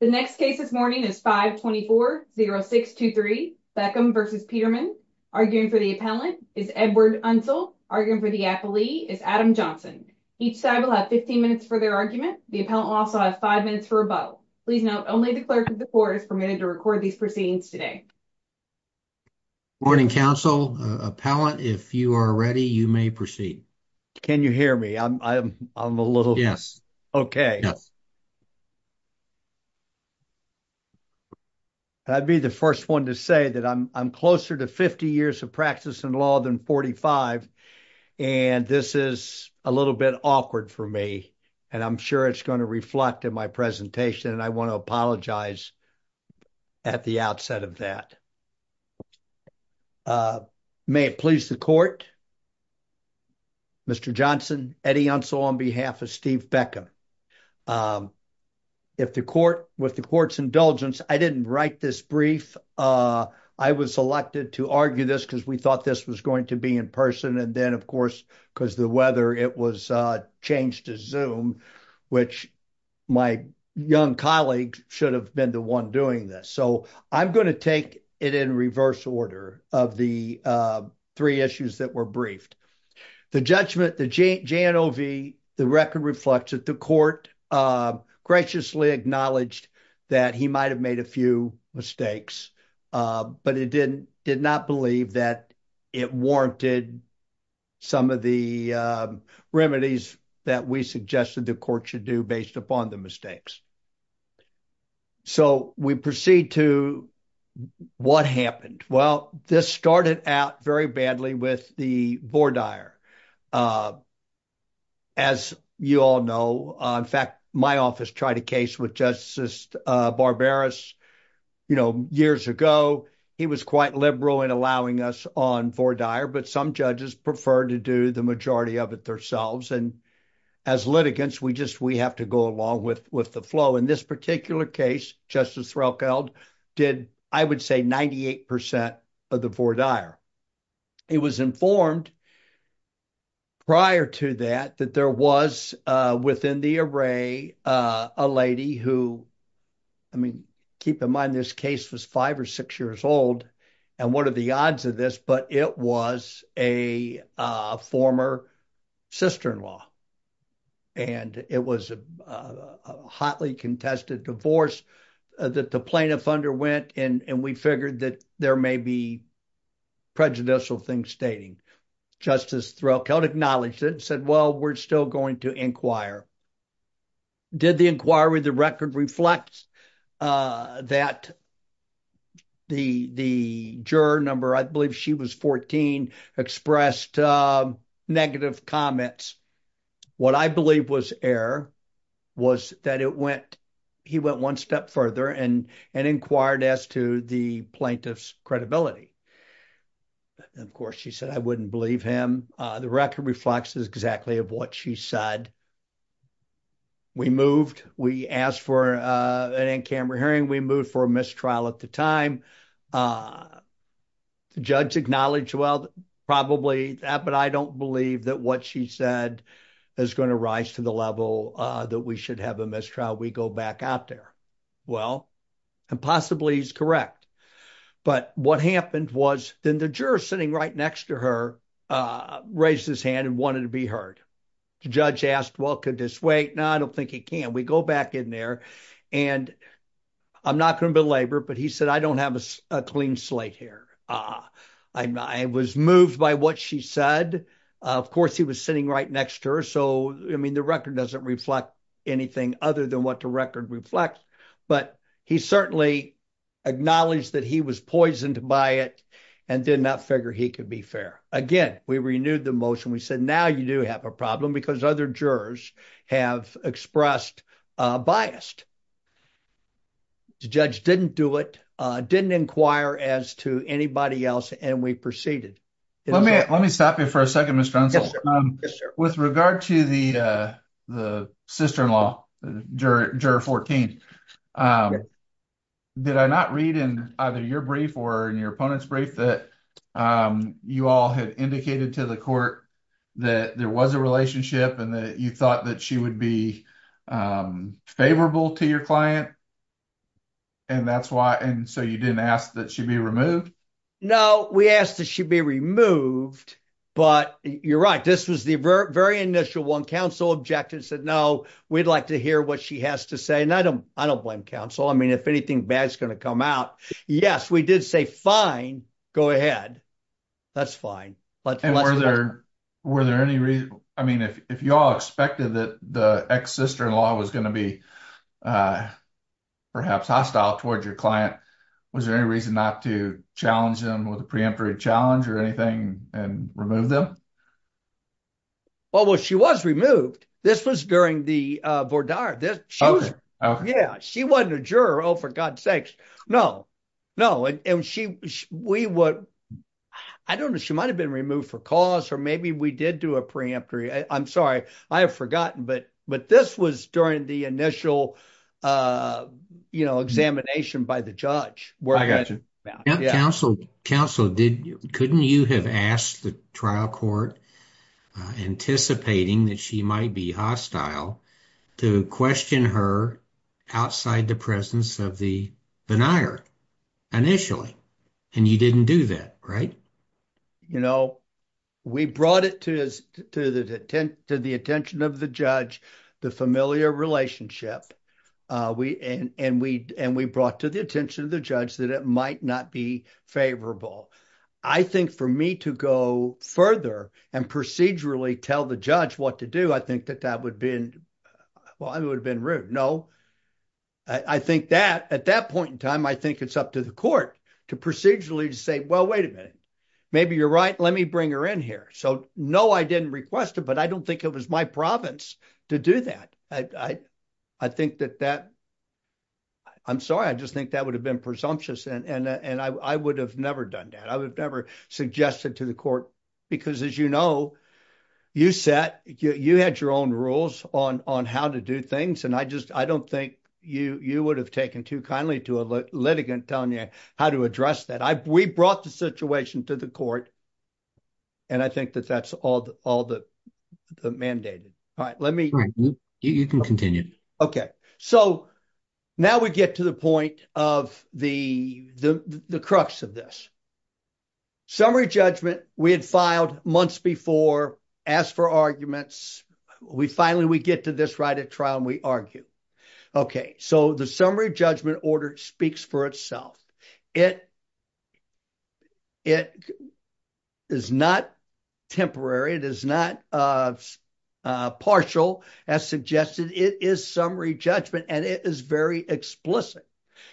The next case this morning is 524-0623 Beckham v. Petermann. Arguing for the appellant is Edward Unsell. Arguing for the appellee is Adam Johnson. Each side will have 15 minutes for their argument. The appellant will also have five minutes for rebuttal. Please note only the clerk of the court is permitted to record these proceedings today. Morning, counsel. Appellant, if you are ready, you may proceed. Can you hear me? I'm, I'm, I'm a little. Yes. Okay. Yes. I'd be the first one to say that I'm, I'm closer to 50 years of practice in law than 45. And this is a little bit awkward for me. And I'm sure it's going to reflect in my presentation. And I want to apologize at the outset of that. May it please the court. Mr. Johnson, Eddie Unsell on behalf of Steve Beckham. If the court, with the court's indulgence, I didn't write this brief. I was selected to argue this because we thought this was going to be in person. And then of course, because the weather, it was changed to Zoom, which my young colleagues should have been the one doing this. So I'm going to take it in reverse order of the three issues that were briefed, the judgment, the J J and O V, the record reflects that the court graciously acknowledged that he might've made a few mistakes, but it didn't, did not believe that it warranted some of the remedies that we suggested the court should do based upon the mistakes. So we proceed to what happened? Well, this started out very badly with the Vordaer. As you all know, in fact, my office tried a case with Justice Barbaros, you know, years ago, he was quite liberal in allowing us on Vordaer, but some judges preferred to do the majority of it themselves. And as litigants, we just, we have to go along with the flow. In this particular case, Justice Threlkeld did, I would say 98% of the Vordaer. It was informed prior to that, that there was within the array, a lady who, I mean, keep in mind this case was five or six years old and what are the odds of this, but it was a former sister-in-law and it was a hotly contested divorce that the plaintiff underwent. And we figured that there may be prejudicial things stating. Justice Threlkeld acknowledged it and said, well, we're still going to inquire. Did the inquiry, the record reflects that the juror number, I believe she was 14, expressed negative comments. What I believe was error was that it went, he went one step further and inquired as to the plaintiff's credibility. Of course, she said, I wouldn't believe him. The record reflects exactly of what she said. We moved, we asked for an in-camera hearing. We moved for a mistrial at the time. The judge acknowledged, well, probably that, but I don't believe that what she said is going to rise to the level that we should have a mistrial. We go back out there. Well, and possibly he's correct, but what happened was then the juror sitting right next to her raised his hand and wanted to be heard. The judge asked, well, could this wait? No, I don't think he can. We go back in there and I'm not going to belabor, but he said, I don't have a clean slate here. I was moved by what she said. Of course, he was sitting right next to her. So, I mean, the record doesn't reflect anything other than what the record reflects, but he certainly acknowledged that he was poisoned by it and did not figure he could be fair. Again, we renewed the motion. We said, now you do have a problem because other jurors have expressed bias. The judge didn't do it, didn't inquire as to anybody else, and we proceeded. Let me stop you for a second, Mr. Dunsell. With regard to the sister-in-law, Juror 14, did I not read in either your brief or in your opponent's brief that you all had indicated to the court that there was a relationship and that you thought that she would be favorable to your client, and so you didn't ask that she be removed? No, we asked that she be removed, but you're right. This was the very initial one. Counsel objected and said, no, we'd like to hear what she has to say, and I don't blame counsel. I mean, if anything bad is going to come out, yes, we did say, fine, go ahead. That's fine. Were there any reason, I mean, if you all expected that the ex-sister-in-law was going to be perhaps hostile towards your client, was there any reason not to challenge them with a preemptory challenge or anything and remove them? Well, she was removed. This was during the Vordar. She wasn't a juror, oh, for God's sakes. No, no. I don't know. She might have been removed for cause, or maybe we did do a preemptory. I'm sorry. I have forgotten, but this was during the initial examination by the judge. I got you. Counsel, couldn't you have asked the trial court, anticipating that she might be hostile, to question her outside the presence of the denier initially, and you didn't do that, right? You know, we brought it to the attention of the judge, the familiar relationship, and we brought to the attention of the judge that it might not be favorable. I think for me to go further and procedurally tell the judge what to do, I think that that would have been rude. No, at that point in time, I think it's up to the court to procedurally say, well, wait a minute, maybe you're right. Let me bring her in here. So, no, I didn't request it, but I don't think it was my province to do that. I think that that, I'm sorry, I just think that would have been presumptuous, and I would have never done that. I would have never suggested to the court, because as you know, you set, you had your own rules on how to do things, and I just, I don't think you would have taken too kindly to a litigant telling you how to address that. We brought the situation to the court, and I think that that's all the mandated. All right, let me. You can continue. Okay. So, now we get to the point of the crux of this. Summary judgment, we had filed months before, asked for arguments. We finally, we get to this right at trial, and we argue. Okay. So, the summary judgment order speaks for itself. It is not temporary. It is not partial, as suggested. It is summary judgment, and it is very explicit.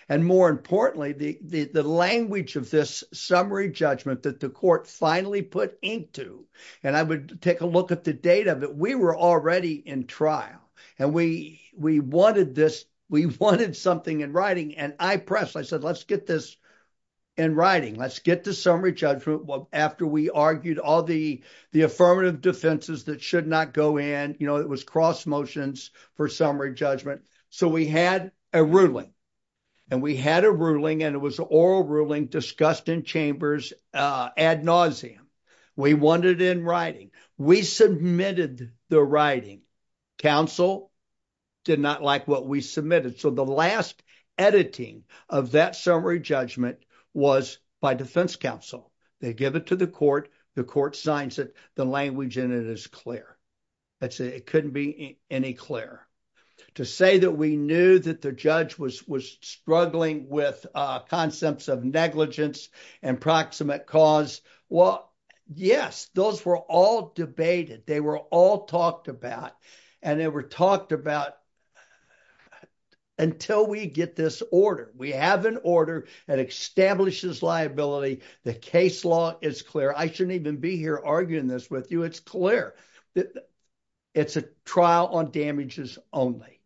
And more importantly, the language of this summary judgment that the court finally put into, and I would take a look at the data, but we were already in trial, and we wanted this. We wanted something in writing, and I pressed. I said, let's get this in writing. Let's get the summary judgment after we argued all the affirmative defenses that should not go in. You know, it was cross motions for summary judgment. So, we had a ruling, and we had a ruling, and it was an oral ruling discussed in chambers ad nauseum. We wanted it in writing. We submitted the writing. Council did not like what we submitted. So, the last editing of that summary judgment was by defense counsel. They give it to the court. The court signs it. The language in it is clear. It couldn't be any clearer. To say that we knew that the judge was struggling with concepts of negligence and proximate cause, well, yes, those were all debated. They were all talked about, and they were talked about until we get this order. We have an order that establishes liability. The case law is clear. I shouldn't even be here arguing this with you. It's clear. That it's a trial on damages only.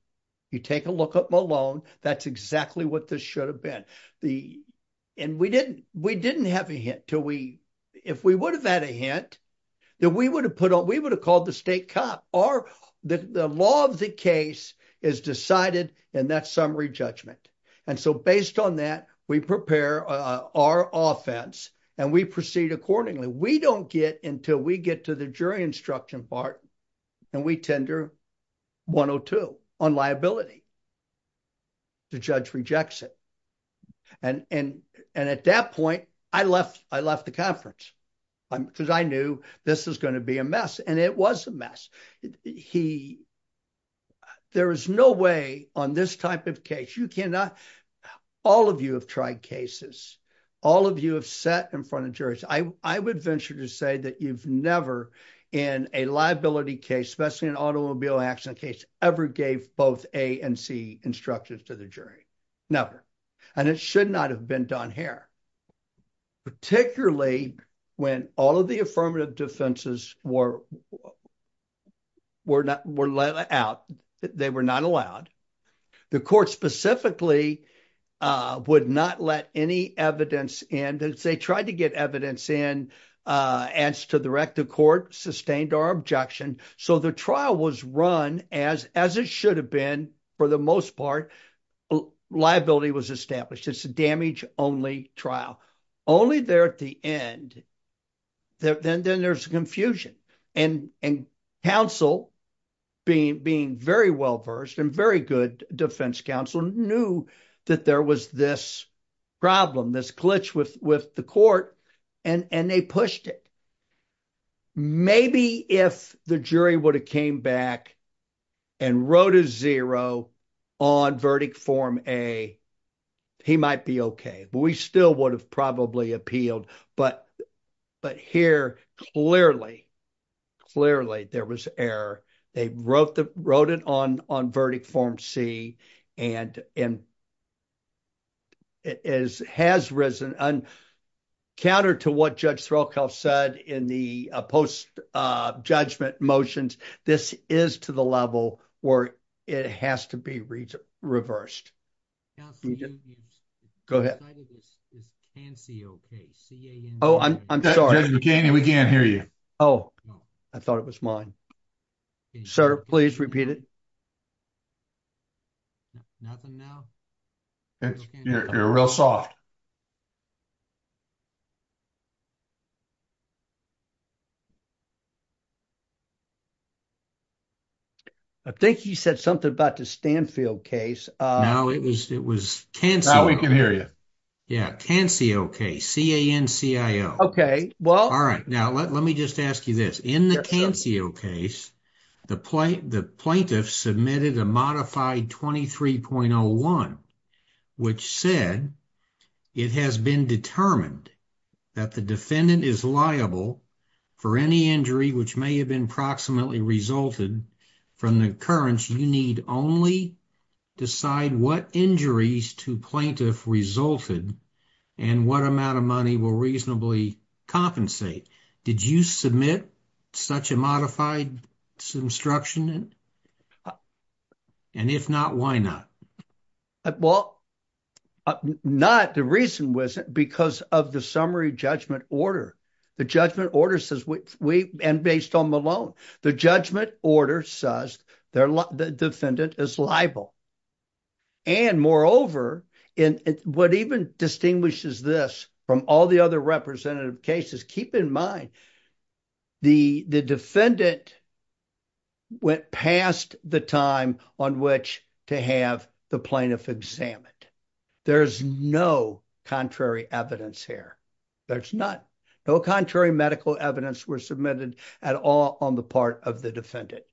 You take a look at Malone. That's exactly what this should have been. We didn't have a hint. If we would have had a hint, then we would have called the state cop. The law of the case is decided in that summary judgment. And so, based on that, we prepare our offense, and we proceed accordingly. We don't get until we get to the jury instruction part, and we tender 102 on liability. The judge rejects it. And at that point, I left the conference because I knew this was going to be a mess, and it was a mess. There is no way on this type of case. All of you have tried cases. All of you have sat in front of juries. I would venture to say that you've never, in a liability case, especially an automobile accident case, ever gave both A and C instructions to the jury. Never. And it should not have been done here, particularly when all of the affirmative defenses were let out. They were not allowed. The court specifically would not let any evidence in. They tried to get evidence in as to the record. The court sustained our objection. So, the trial was run as it should have been. For the most part, liability was established. It's a damage-only trial. Only there at the end, then there's confusion. And counsel, being very well-versed and very good defense counsel, knew that there was this problem, this glitch with the court, and they pushed it. Maybe if the jury would have came back and wrote a zero on verdict form A, he might be okay. We still would have probably appealed. But here, clearly, clearly there was error. They wrote it on verdict form C, and it has risen. And counter to what Judge Threlkel said in the post-judgment motions, this is to the level where it has to be reversed. Go ahead. Judge McCanney, we can't hear you. I thought it was mine. Sir, please repeat it. Nothing now? You're real soft. I think you said something about the Stanfield case. No, it was Cancio. Now we can hear you. Yeah, Cancio case, C-A-N-C-I-O. Okay, well... All right, now let me just ask you this. In the Cancio case, the plaintiff submitted a modified 23.01, which said it has been determined that the defendant is liable for any injury which may have been proximately resulted from the occurrence. You need only decide what injuries to plaintiff resulted and what amount of money will reasonably compensate. Did you submit such a modified instruction? And if not, why not? Well, not the reason wasn't because of the summary judgment order. The judgment order says, and based on Malone, the judgment order says the defendant is liable. And moreover, what even distinguishes this from all the other representative cases, keep in mind, the defendant went past the time on which to have the plaintiff examined. There's no contrary evidence here. There's none. No contrary medical evidence was submitted at all on the part of the defendant.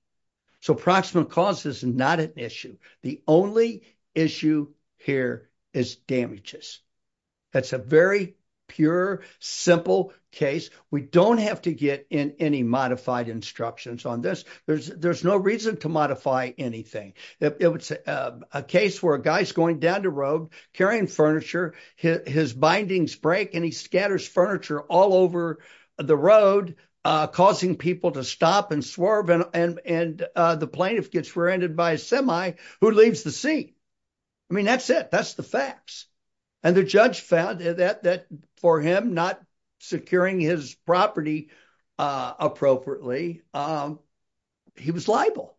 So proximate cause is not an issue. The only issue here is damages. That's a very pure, simple case. We don't have to get in any modified instructions on this. There's no reason to modify anything. If it's a case where a guy's going down the road, carrying furniture, his bindings break, and he scatters furniture all over the road, causing people to stop and swerve, and the plaintiff gets rear-ended by a semi who leaves the scene. I mean, that's it. That's the facts. And the judge found that for him not securing his property appropriately, he was liable.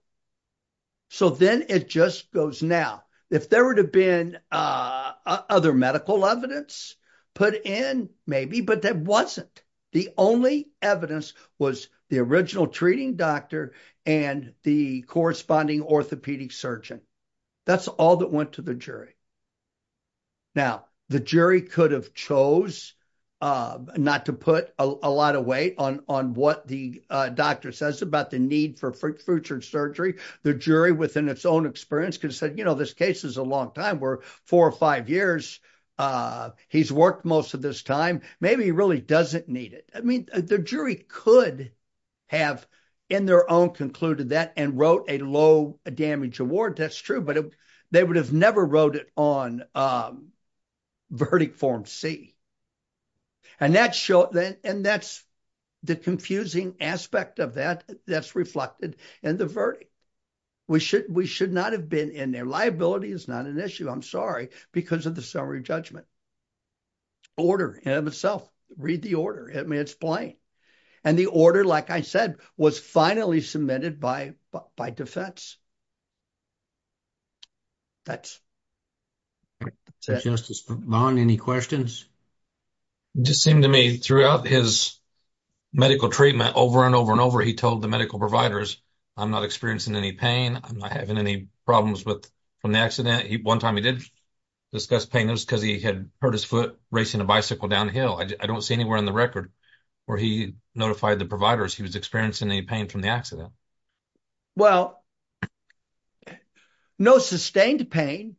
So then it just goes now. If there would have been other medical evidence put in, maybe, but there wasn't. The only evidence was the original orthopedic surgeon. That's all that went to the jury. Now, the jury could have chose not to put a lot of weight on what the doctor says about the need for future surgery. The jury, within its own experience, could have said, you know, this case is a long time. We're four or five years. He's worked most of this time. Maybe he really doesn't need it. I mean, the jury could have, in their own, concluded that and wrote a low damage award. That's true. But they would have never wrote it on verdict form C. And that's the confusing aspect of that that's reflected in the verdict. We should not have been in there. Liability is not an issue, I'm sorry, because of the summary judgment. Order in and of itself. Read the order. I mean, it's plain. And the order, like I said, was finally submitted by by defense. That's. Justice Von, any questions? Just seemed to me throughout his medical treatment over and over and over, he told the medical providers, I'm not experiencing any pain. I'm not having any problems with an accident. One time he did discuss pain. It was because he had hurt his foot racing a bicycle downhill. I don't see on the record where he notified the providers he was experiencing any pain from the accident. Well, no sustained pain.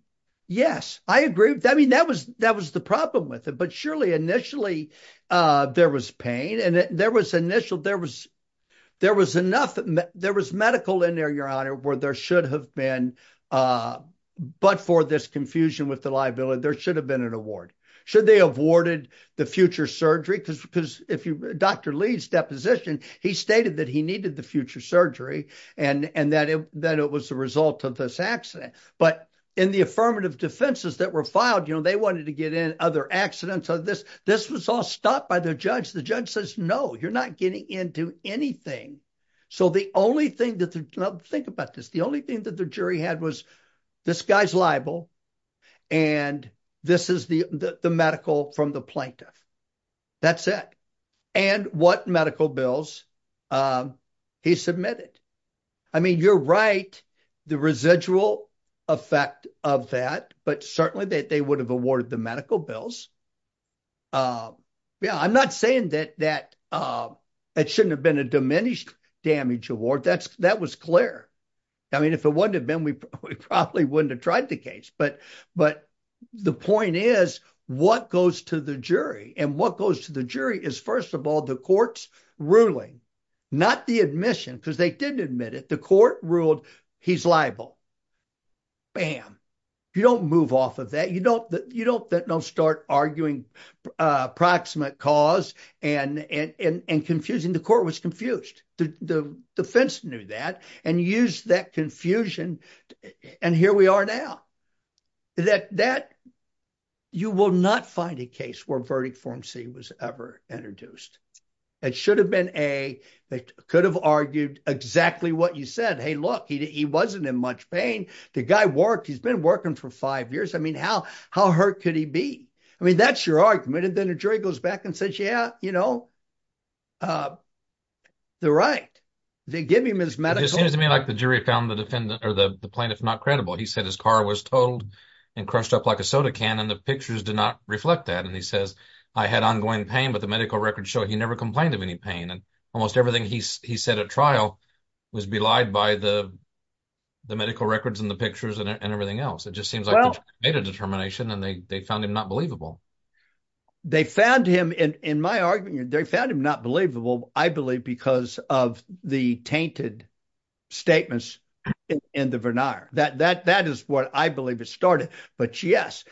Yes, I agree. I mean, that was that was the problem with it. But surely initially there was pain and there was initial there was there was enough. There was medical in there, your honor, where there should have been. But for this confusion with the liability, there should have been an award. Should they have awarded the future surgery? Because if you Dr. Lee's deposition, he stated that he needed the future surgery and and that it that it was the result of this accident. But in the affirmative defenses that were filed, you know, they wanted to get in other accidents of this. This was all stopped by the judge. The judge says, no, you're not getting into anything. So the only thing that think about this, the only thing that the jury had was this guy's liable and this is the the medical from the plaintiff. That's it. And what medical bills he submitted. I mean, you're right. The residual effect of that, but certainly that they would have awarded the medical bills. Yeah, I'm not saying that that it shouldn't have been a damage award. That's that was clear. I mean, if it wouldn't have been, we probably wouldn't have tried the case. But but the point is, what goes to the jury and what goes to the jury is, first of all, the court's ruling, not the admission, because they didn't admit it. The court ruled he's liable. Bam. You don't move off of that. You don't you don't start arguing approximate cause and and confusing. The court was confused. The defense knew that and used that confusion. And here we are now that that you will not find a case where verdict form C was ever introduced. It should have been a that could have argued exactly what you said. Hey, look, he wasn't in much pain. The guy worked. He's been working for five years. I mean, how how hurt could he be? I mean, that's your argument. And then a jury goes back and says, yeah, you know, the right they give him his medical. It seems to me like the jury found the defendant or the plaintiff not credible. He said his car was totaled and crushed up like a soda can. And the pictures did not reflect that. And he says, I had ongoing pain. But the medical records show he never complained of any pain. And almost everything he said at trial was belied by the the medical records and the pictures and everything else. It just seems like a determination. And they found him not believable. They found him. And in my argument, they found him not believable, I believe, because of the tainted statements in the vernacular that that that is what I believe it started. But, yes,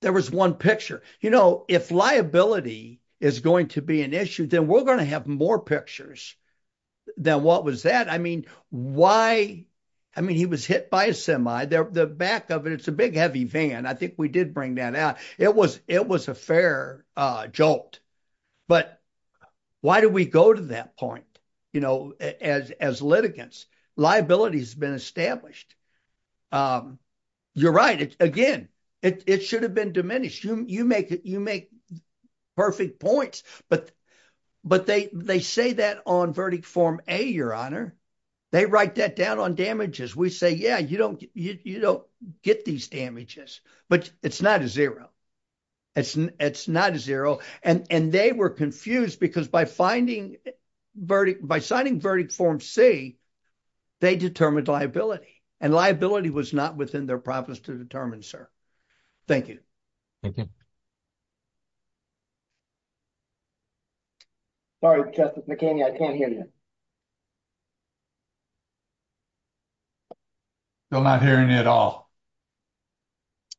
there was one picture. You know, if liability is going to be an issue, then we're going to have more pictures than what was that. I mean, why? I mean, he was hit by a the back of it. It's a big, heavy van. I think we did bring that out. It was it was a fair jolt. But why do we go to that point? You know, as as litigants, liability has been established. You're right. Again, it should have been diminished. You make it you make perfect points. But but they they say that on verdict form a your honor. They write that down on damages. We say, yeah, you don't you don't get these damages, but it's not a zero. It's it's not a zero. And they were confused because by finding verdict by signing verdict form C, they determined liability and liability was not within their profits to determine, sir. Thank you. Thank you. Sorry, Justice McKinney, I can't hear you. Still not hearing it all.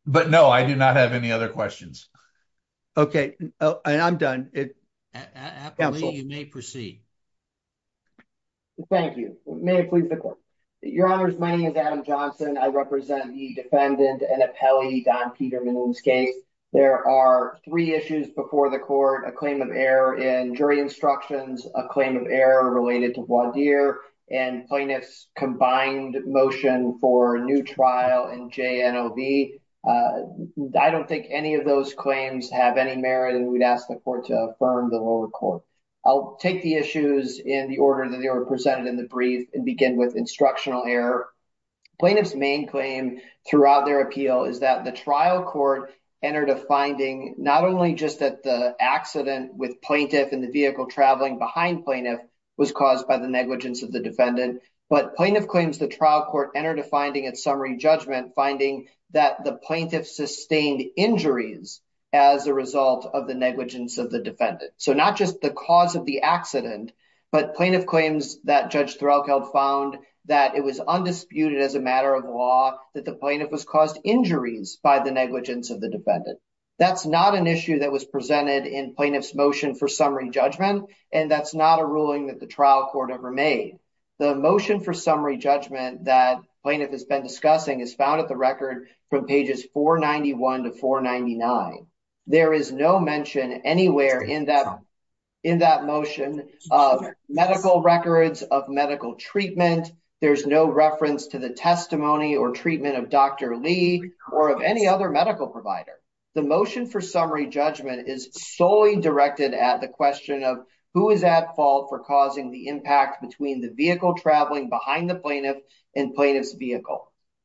But no, I do not have any other questions. Okay, I'm done. You may proceed. Thank you. May it please the court. Your honors, my name is Adam Johnson. I represent the defendant and appellee, Don Peterman in this case. There are three issues before the court, a claim of error in jury instructions, a claim of error related to voir dire and plaintiff's combined motion for a new trial in J.N.O.V. I don't think any of those claims have any merit. And we'd ask the court to affirm the lower court. I'll take the issues in the order that they were presented in the brief and begin with instructional error. Plaintiff's main claim throughout their appeal is that the trial court entered a finding not only just that the accident with plaintiff in the vehicle traveling behind plaintiff was caused by the negligence of the defendant, but plaintiff claims the trial court entered a finding at summary judgment finding that the plaintiff sustained injuries as a result of the negligence of the defendant. So not just the cause of the accident, but plaintiff claims that judge Threlkeld found that it was undisputed as a matter of law that the plaintiff was caused injuries by the negligence of the defendant. That's not an issue that was presented in plaintiff's motion for summary judgment and that's not a ruling that the trial court ever made. The motion for summary judgment that plaintiff has been discussing is found at from pages 491 to 499. There is no mention anywhere in that in that motion of medical records of medical treatment. There's no reference to the testimony or treatment of Dr. Lee or of any other medical provider. The motion for summary judgment is solely directed at the question of who is at fault for causing the impact between the vehicle traveling behind the plaintiff and plaintiff's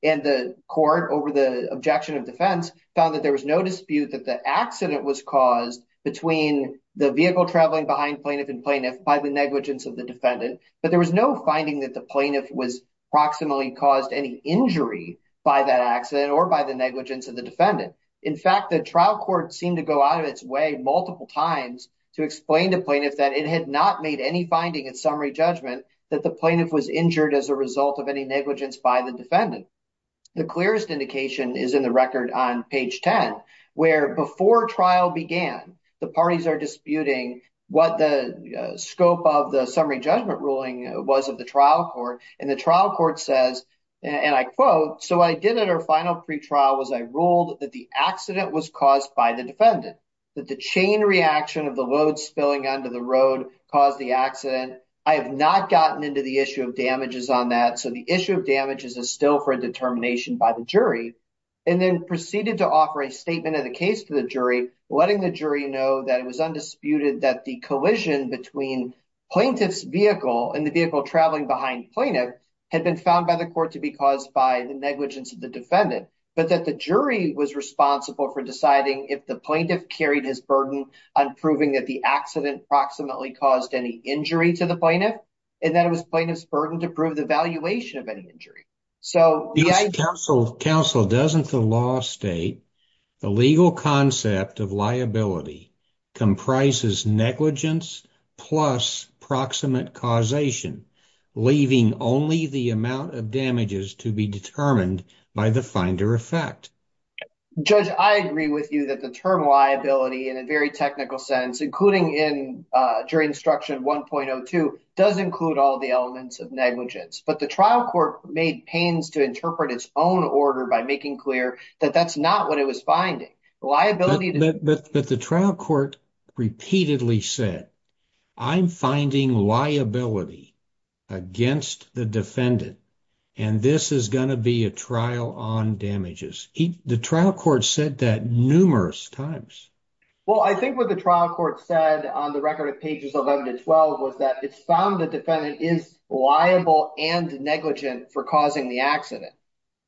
and the court over the objection of defense found that there was no dispute that the accident was caused between the vehicle traveling behind plaintiff and plaintiff by the negligence of the defendant, but there was no finding that the plaintiff was proximally caused any injury by that accident or by the negligence of the defendant. In fact, the trial court seemed to go out of its way multiple times to explain to plaintiff that it had not made any finding at judgment that the plaintiff was injured as a result of any negligence by the defendant. The clearest indication is in the record on page 10 where before trial began the parties are disputing what the scope of the summary judgment ruling was of the trial court and the trial court says and I quote, so I did at our final pre-trial was I ruled that the accident was caused by the not gotten into the issue of damages on that. So the issue of damages is still for a determination by the jury and then proceeded to offer a statement of the case to the jury letting the jury know that it was undisputed that the collision between plaintiff's vehicle and the vehicle traveling behind plaintiff had been found by the court to be caused by the negligence of the defendant, but that the jury was responsible for deciding if the plaintiff carried his burden on proving that the accident proximately caused any injury to the plaintiff and that it was plaintiff's burden to prove the valuation of any injury. So counsel doesn't the law state the legal concept of liability comprises negligence plus proximate causation leaving only the amount of damages to be determined by the finder effect. Judge, I agree with you that the term liability in a very technical sense including in jury instruction 1.02 does include all the elements of negligence, but the trial court made pains to interpret its own order by making clear that that's not what it was finding liability. But the trial court repeatedly said I'm finding liability against the defendant and this is going to be a trial on damages. He the trial court said that numerous times. Well I think what the trial court said on the record of pages 11 to 12 was that it's found the defendant is liable and negligent for causing the accident.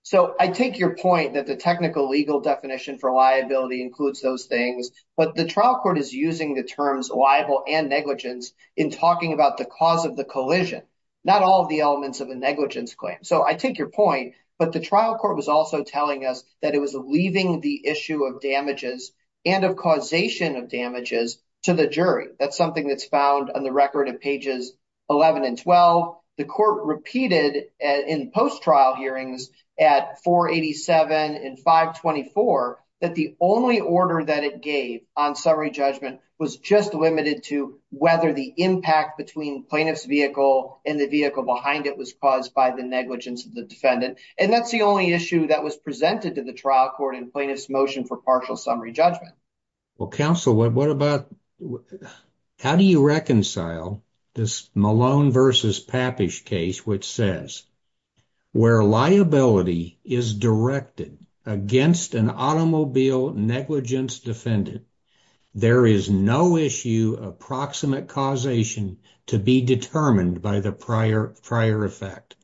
So I take your point that the technical legal definition for liability includes those things, but the trial court is using the terms liable and negligence in talking about the cause of the collision, not all the elements of a negligence claim. So I take your point, but the trial court was also telling us that it was leaving the issue of damages and of causation of damages to the jury. That's something that's found on the record of pages 11 and 12. The court repeated in post-trial hearings at 487 and 524 that the only order that it gave on summary judgment was just limited to whether the impact between plaintiff's vehicle and the vehicle behind it was caused by the negligence of the defendant and that's the only issue that was presented to the trial court in plaintiff's motion for partial summary judgment. Well counsel, what about how do you reconcile this Malone versus Pappish case which says where liability is directed against an automobile negligence defendant, there is no issue of proximate causation to be determined by the prior prior effect.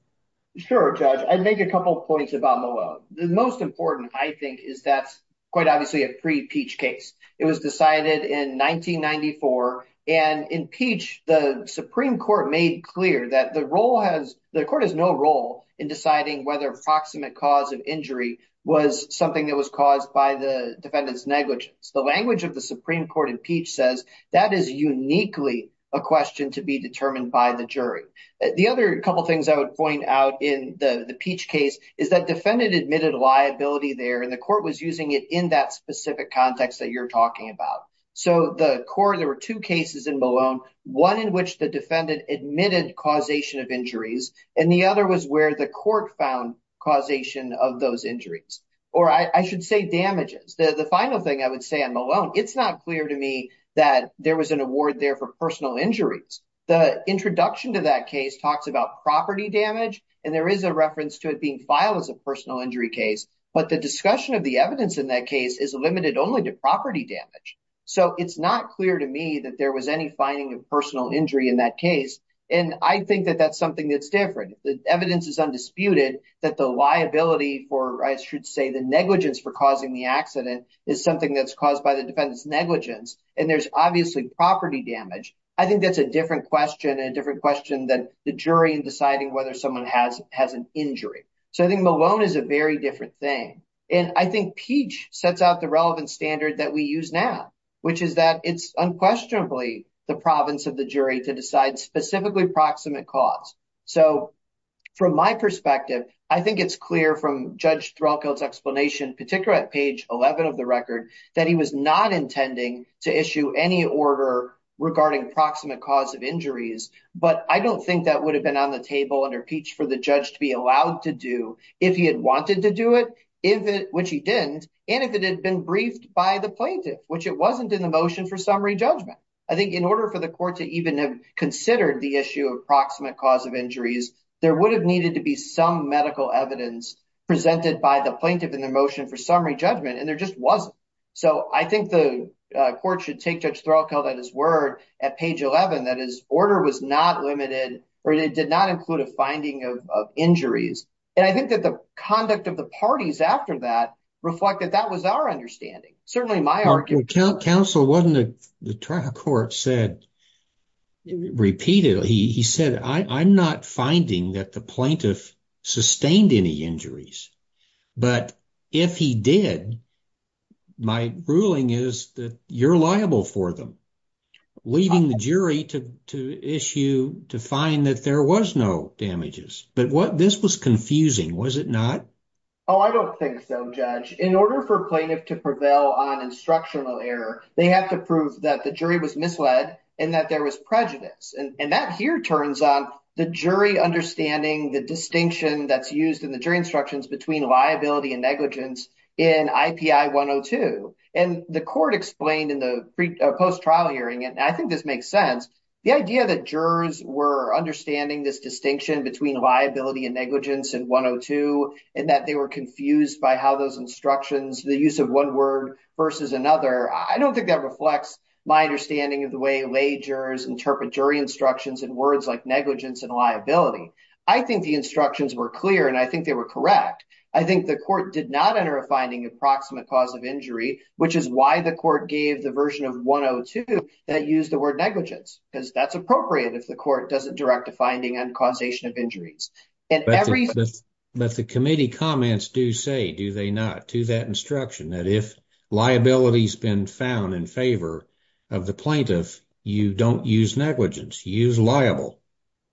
Sure judge, I'd make a couple points about Malone. The most important I think is that's quite obviously a pre-Peach case. It was decided in 1994 and in Peach the Supreme Court made clear that the role has, the court has no role in deciding whether proximate cause of injury was something that was caused by the defendant's negligence. The language of the Supreme Court in Peach says that is uniquely a question to be determined by the jury. The other couple things I would point out in the Peach case is that defendant admitted liability there and the court was using it in that specific context that you're talking about. So the court, there were two cases in Malone, one in which the defendant admitted causation of injuries and the other was where the court found causation of those injuries or I should say damages. The final thing I would say on Malone, it's not clear to me that there was an award there for personal injuries. The introduction to that talks about property damage and there is a reference to it being filed as a personal injury case, but the discussion of the evidence in that case is limited only to property damage. So it's not clear to me that there was any finding of personal injury in that case and I think that that's something that's different. The evidence is undisputed that the liability for I should say the negligence for causing the accident is something that's caused by the defendant's negligence and there's obviously property damage. I think that's a different question and a different question than the jury in deciding whether someone has an injury. So I think Malone is a very different thing and I think Peach sets out the relevant standard that we use now, which is that it's unquestionably the province of the jury to decide specifically proximate cause. So from my perspective, I think it's clear from Judge Threlkeld's explanation, particularly at page 11 of the record, that he was not intending to issue any order regarding proximate cause of injuries, but I don't think that would have been on the table under Peach for the judge to be allowed to do if he had wanted to do it, which he didn't, and if it had been briefed by the plaintiff, which it wasn't in the motion for summary judgment. I think in order for the court to even have considered the issue of proximate cause of injuries, there would have needed to be some medical evidence presented by the plaintiff in the motion for summary judgment and there just wasn't. So I think the court should take Judge Threlkeld at his word at page 11 that his order was not limited or it did not include a finding of injuries and I think that the conduct of the parties after that reflect that that was our understanding. Certainly my argument. Counsel, wasn't it the trial court said repeatedly, he said I'm not finding that the plaintiff sustained any injuries, but if he did, my ruling is that you're liable for them, leaving the jury to issue to find that there was no damages. But what this was confusing, was it not? Oh, I don't think so, Judge. In order for plaintiff to prevail on instructional error, they have to prove that the jury was misled and that there was prejudice and that here turns on the jury understanding the distinction that's used in the jury instructions between liability and negligence in IPI 102. And the court explained in the post-trial hearing, and I think this makes sense, the idea that jurors were understanding this distinction between liability and negligence in 102 and that they were confused by how those instructions, the use of one word versus another, I don't think that reflects my understanding of the way lay jurors interpret jury instructions in words like negligence and liability. I think the instructions were clear and I think they were correct. I think the court did not enter a finding approximate cause of injury, which is why the court gave the version of 102 that used the word negligence, because that's appropriate if the court doesn't direct a finding on causation of injuries. But the committee comments do say, do they not, to that instruction that if liability's been found in favor of the plaintiff, you don't use negligence, you use liable.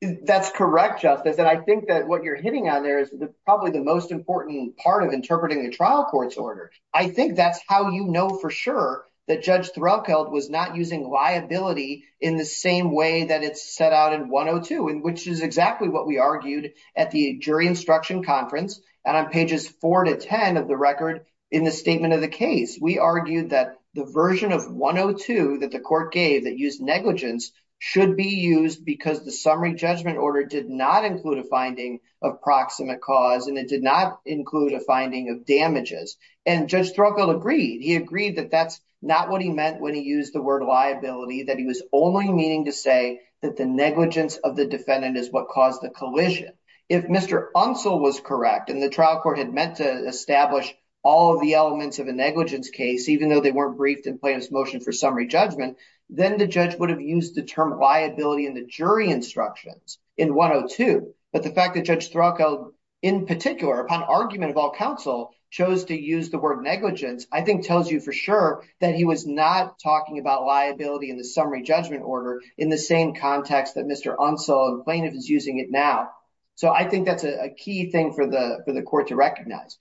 That's correct, Justice, and I think that what you're hitting on there is probably the most important part of interpreting a trial court's order. I think that's how you know for sure that Judge Threlkeld was not using liability in the same way that it's set out in 102, which is exactly what we argued at the jury instruction conference and on pages 4 to 10 of the record in the statement of the case. We argued that the version of 102 that the court gave that used negligence should be used because the summary judgment order did not include a finding of proximate cause and it did not include a finding of damages. And Judge Threlkeld agreed. He agreed that that's not what he meant when he used the word liability, that he was only meaning to say that the negligence of the defendant is what caused the collision. If Mr. Unsell was correct and the trial court had meant to establish all the elements of a negligence case, even though they weren't briefed in plaintiff's motion for summary judgment, then the judge would have used the term liability in the jury instructions in 102. But the fact that Judge Threlkeld, in particular, upon argument of all counsel, chose to use the word negligence I think tells you for sure that he was not talking about liability in the summary judgment order in the same context that Mr. Unsell and plaintiff is using it now. So I think that's a key thing for the court to recognize.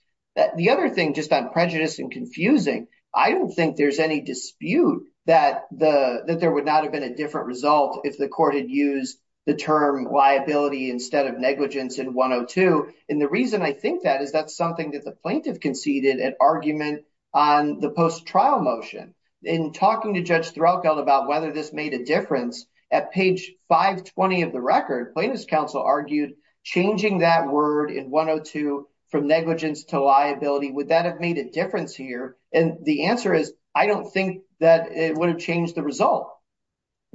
The other thing, just on prejudice and confusing, I don't think there's any dispute that there would not have been a different result if the court had used the term liability instead of negligence in 102. And the reason I think that is that's something that the plaintiff conceded at argument on the post-trial motion. In talking to Judge Threlkeld about whether this made a difference, at page 520 of the record, plaintiff's counsel argued changing that word in 102 from negligence to liability, would that have made a difference here? And the answer is, I don't think that it would have changed the result.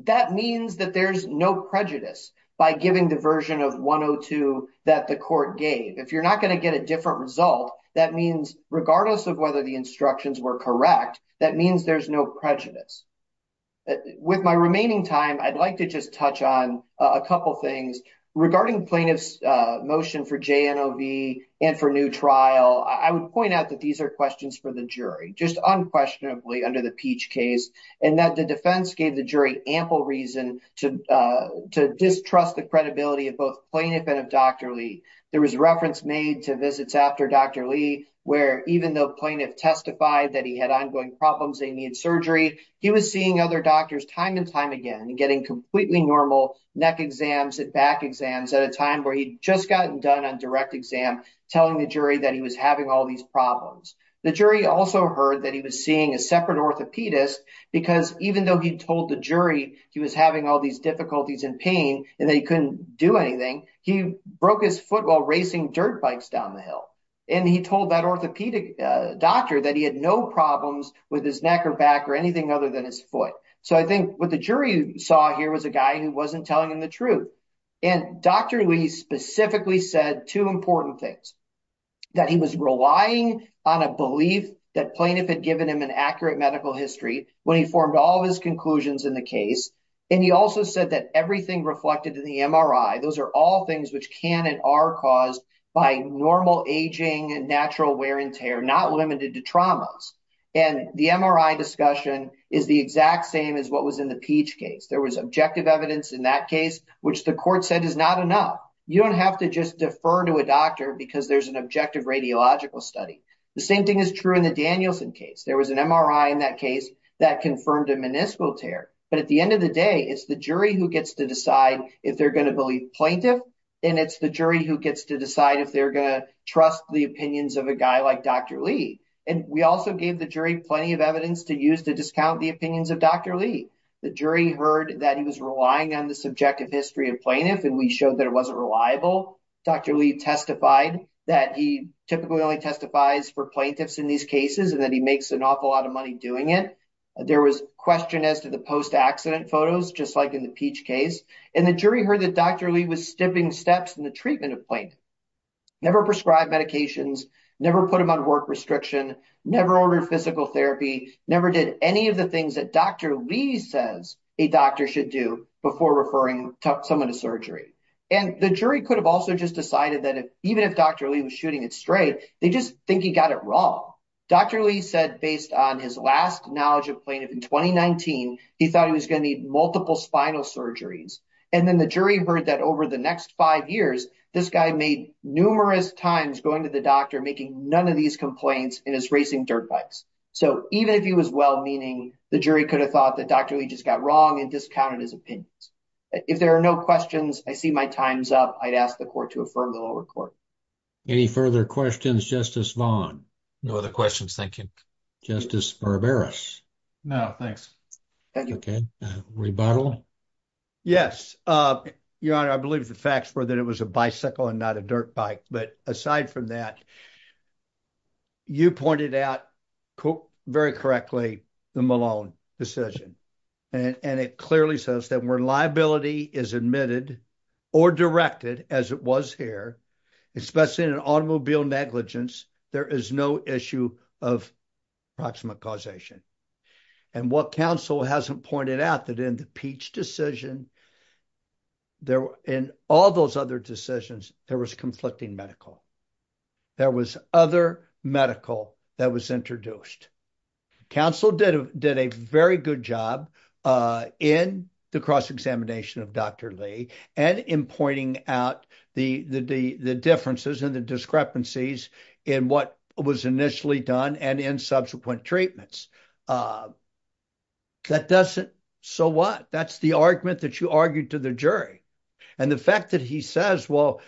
That means that there's no prejudice by giving the version of 102 that the court gave. If you're not going to get a different result, that means regardless of whether the instructions were correct, that means there's no prejudice. With my remaining time, I'd like to just touch on a couple things. Regarding plaintiff's motion for JNOV and for new trial, I would point out that these are questions for the jury, just unquestionably under the Peach case, and that the defense gave the jury ample reason to distrust the credibility of both plaintiff and of Dr. Lee. There was a reference made to visits after Dr. Lee, where even though plaintiff testified that he had ongoing problems, they need surgery, he was seeing other doctors time and time again, getting completely normal neck exams and back exams at a time where he'd just gotten done on direct exam, telling the jury that he was having all these problems. The jury also heard that he was seeing a separate orthopedist, because even though he told the jury he was having all these difficulties and pain, and they couldn't do anything, he broke his foot while racing dirt bikes down the hill. And he told that orthopedic doctor that he had no problems with his neck or back or anything other than his foot. So I think what the jury saw here was a guy who wasn't telling him the truth. And Dr. Lee specifically said two important things, that he was relying on a belief that plaintiff had given him an accurate medical history when he formed all of his conclusions in the case. And he also said that everything reflected in the MRI, those are all things which can and are caused by normal aging and natural wear and tear, not limited to traumas. And the MRI discussion is the exact same as what was in the Peach case. There was objective evidence in that case, which the court said is not enough. You don't have to just defer to a doctor because there's an objective radiological study. The same thing is true in the Danielson case. There was an MRI in that case that confirmed a meniscal tear. But at the end of the day, it's the jury who gets to decide if they're going to believe plaintiff, and it's the jury who gets to decide if they're going to trust the opinions of a guy like Dr. Lee. And we also gave the jury plenty of evidence to use to discount the opinions of Dr. Lee. The jury heard that he was relying on the subjective history of plaintiff, and we showed that it wasn't reliable. Dr. Lee testified that he typically only testifies for plaintiffs in these cases, and that he makes an awful lot of money doing it. There was question as to the post-accident photos, just like in the Peach case. And the jury heard that Dr. Lee was stepping steps in the treatment of plaintiff. Never prescribed medications, never put him on restriction, never ordered physical therapy, never did any of the things that Dr. Lee says a doctor should do before referring someone to surgery. And the jury could have also just decided that even if Dr. Lee was shooting it straight, they just think he got it wrong. Dr. Lee said, based on his last knowledge of plaintiff in 2019, he thought he was going to need multiple spinal surgeries. And then the jury heard that over the next five years, this guy made numerous times going to the doctor, making none of these complaints, and is racing dirt bikes. So even if he was well-meaning, the jury could have thought that Dr. Lee just got wrong and discounted his opinions. If there are no questions, I see my time's up. I'd ask the court to affirm the lower court. Any further questions, Justice Vaughn? No other questions, thank you. Justice Barberis? No, thanks. Thank you. Okay. Rebuttal? Yes. Your Honor, I believe the facts were that it was a bicycle and not a dirt bike. But aside from that, you pointed out very correctly the Malone decision. And it clearly says that when liability is admitted or directed, as it was here, especially in an automobile negligence, there is no issue of approximate causation. And what counsel hasn't pointed out that in the Peach decision, in all those other decisions, there was conflicting medical. There was other medical that was introduced. Counsel did a very good job in the cross-examination of Dr. Lee, and in pointing out the differences and the discrepancies in what was initially done and subsequent treatments. So what? That's the argument that you argued to the jury. And the fact that he says, well,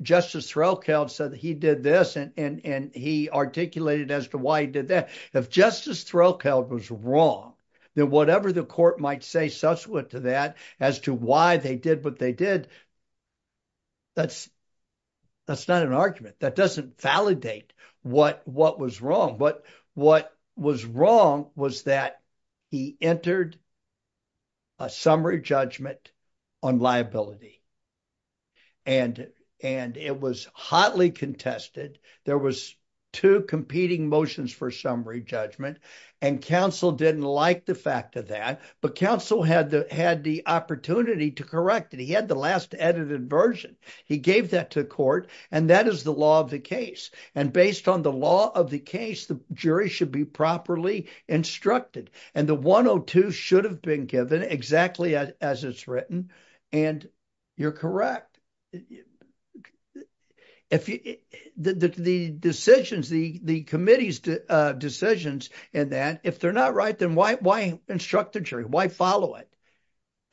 Justice Threlkeld said that he did this, and he articulated as to why he did that. If Justice Threlkeld was wrong, then whatever the court might say subsequent to that as to why they did what they did, that's not an argument. That doesn't validate what was wrong. But what was wrong was that he entered a summary judgment on liability. And it was hotly contested. There was two competing motions for summary judgment, and counsel didn't like the fact of that. But counsel had the opportunity to correct it. He the last edited version. He gave that to court, and that is the law of the case. And based on the law of the case, the jury should be properly instructed. And the 102 should have been given exactly as it's written. And you're correct. The committee's decisions in that, if they're not right, then why instruct the jury? Why follow it?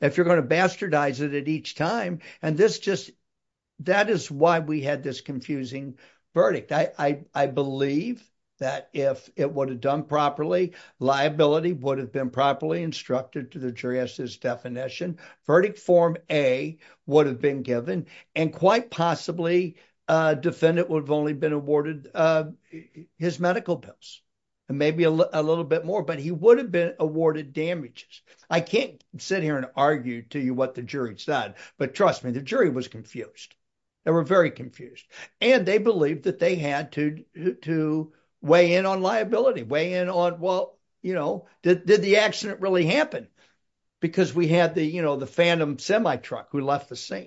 If you're going to bastardize it at each time, and that is why we had this confusing verdict. I believe that if it would have done properly, liability would have been properly instructed to the jury as to its definition. Verdict form A would have been given, and quite possibly, defendant would have only been awarded his medical bills, and maybe a little bit more, but he would have been awarded damages. I can't sit here and argue to you what the jury said, but trust me, the jury was confused. They were very confused. And they believed that they had to weigh in on liability, weigh in on, well, you know, did the accident really happen? Because we had the, you know, the phantom semi truck who left the scene.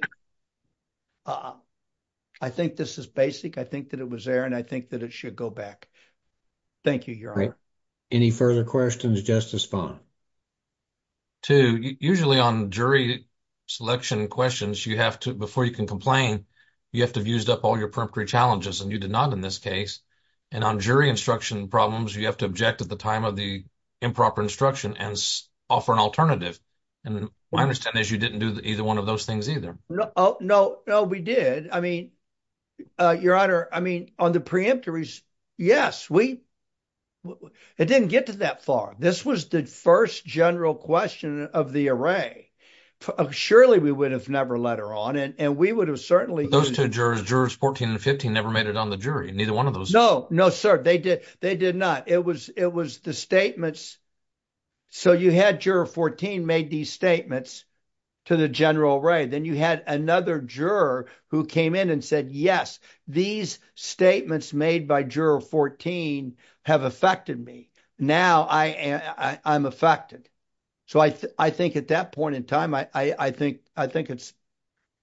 I think this is basic. I think that it was there, and I think that it should go back. Thank you, Your Honor. Any further questions, Justice Fung? Two. Usually on jury selection questions, you have to, before you can complain, you have to have used up all your preemptory challenges, and you did not in this case. And on jury instruction problems, you have to object at the time of the improper instruction and offer an alternative. And my understanding is you didn't do either one of those things either. No, no, we did. I mean, Your Honor, I mean, on the preemptories, yes, we, it didn't get to that far. This was the first general question of the array. Surely we would have never let her on, and we would have certainly- Those two jurors, jurors 14 and 15, never made it on the jury. Neither one of those- No, no, sir. They did not. It was the statements. So you had juror 14 made these statements to the general array. Then you had another juror who came in and said, yes, these statements made by juror 14 have affected me. Now I'm affected. So I think at that point in time, I think it's,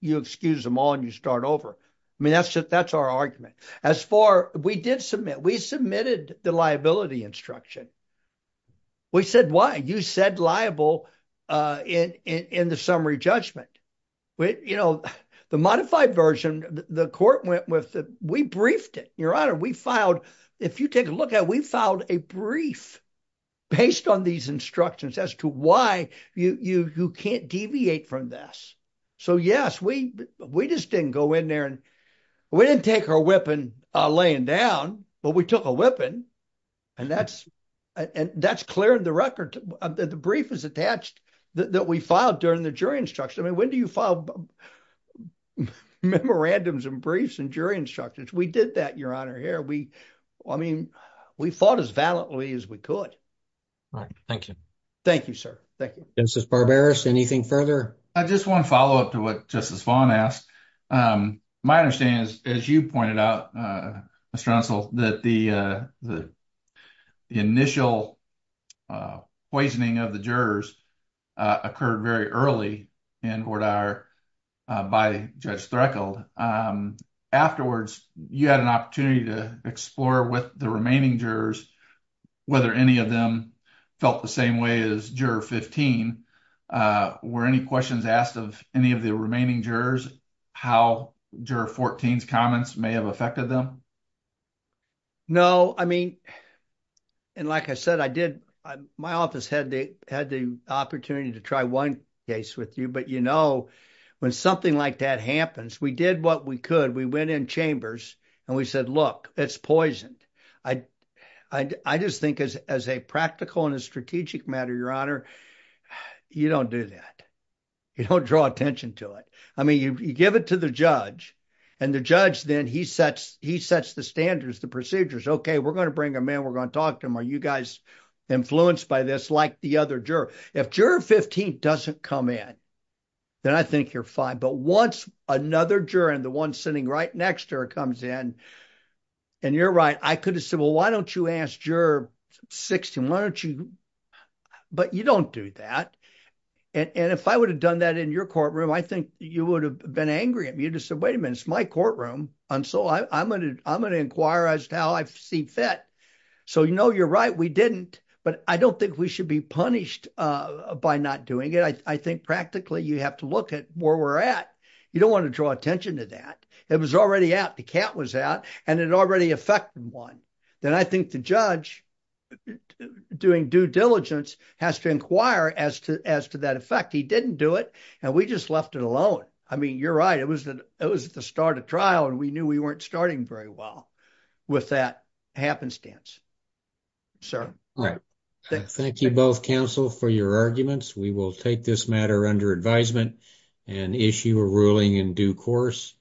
you excuse them all and you start over. I mean, that's just, that's our argument. As far, we did submit, we submitted the liability instruction. We said, why? You said liable in the summary judgment. The modified version, the court went with, we briefed it. Your Honor, we filed, if you take a look at it, we filed a brief based on these instructions as to why you can't deviate from this. So yes, we just didn't go in down, but we took a whipping and that's, and that's clear in the record that the brief is attached that we filed during the jury instruction. I mean, when do you file memorandums and briefs and jury instructions? We did that, Your Honor, here. We, I mean, we fought as valiantly as we could. All right. Thank you. Thank you, sir. Thank you. Justice Barberis, anything further? I just want to follow up to what Justice Vaughn asked. My understanding is, as you pointed out, Mr. Unsel, that the initial poisoning of the jurors occurred very early in Hordauer by Judge Threkel. Afterwards, you had an opportunity to explore with the remaining jurors whether any of them felt the same way as Juror 15. Were any questions asked of any of the remaining jurors? How Juror 14's comments may have affected them? No, I mean, and like I said, I did, my office had the opportunity to try one case with you, but you know, when something like that happens, we did what we could. We went in chambers and we said, look, it's poisoned. I just think as a practical and a strategic matter, Your Honor, you don't do that. You don't draw attention to it. I the judge and the judge, then he sets, he sets the standards, the procedures. Okay, we're going to bring a man. We're going to talk to him. Are you guys influenced by this? Like the other juror. If Juror 15 doesn't come in, then I think you're fine. But once another juror and the one sitting right next to her comes in and you're right, I could have said, well, why don't you ask Juror 16? Why don't you? But you don't do that. And if I would have done that in your courtroom, I think you would have been angry at me. You just said, wait a minute, it's my courtroom. And so I'm going to, I'm going to inquire as to how I see fit. So, you know, you're right. We didn't, but I don't think we should be punished by not doing it. I think practically you have to look at where we're at. You don't want to draw attention to that. It was already out. The cat was out and it already affected one. Then I think the judge doing due diligence has to inquire as to, as to that effect. He didn't do it and we just left it alone. I mean, you're right. It was the, it was the start of trial and we knew we weren't starting very well with that happenstance, sir. Thank you both counsel for your arguments. We will take this matter under advisement and issue a ruling in due course.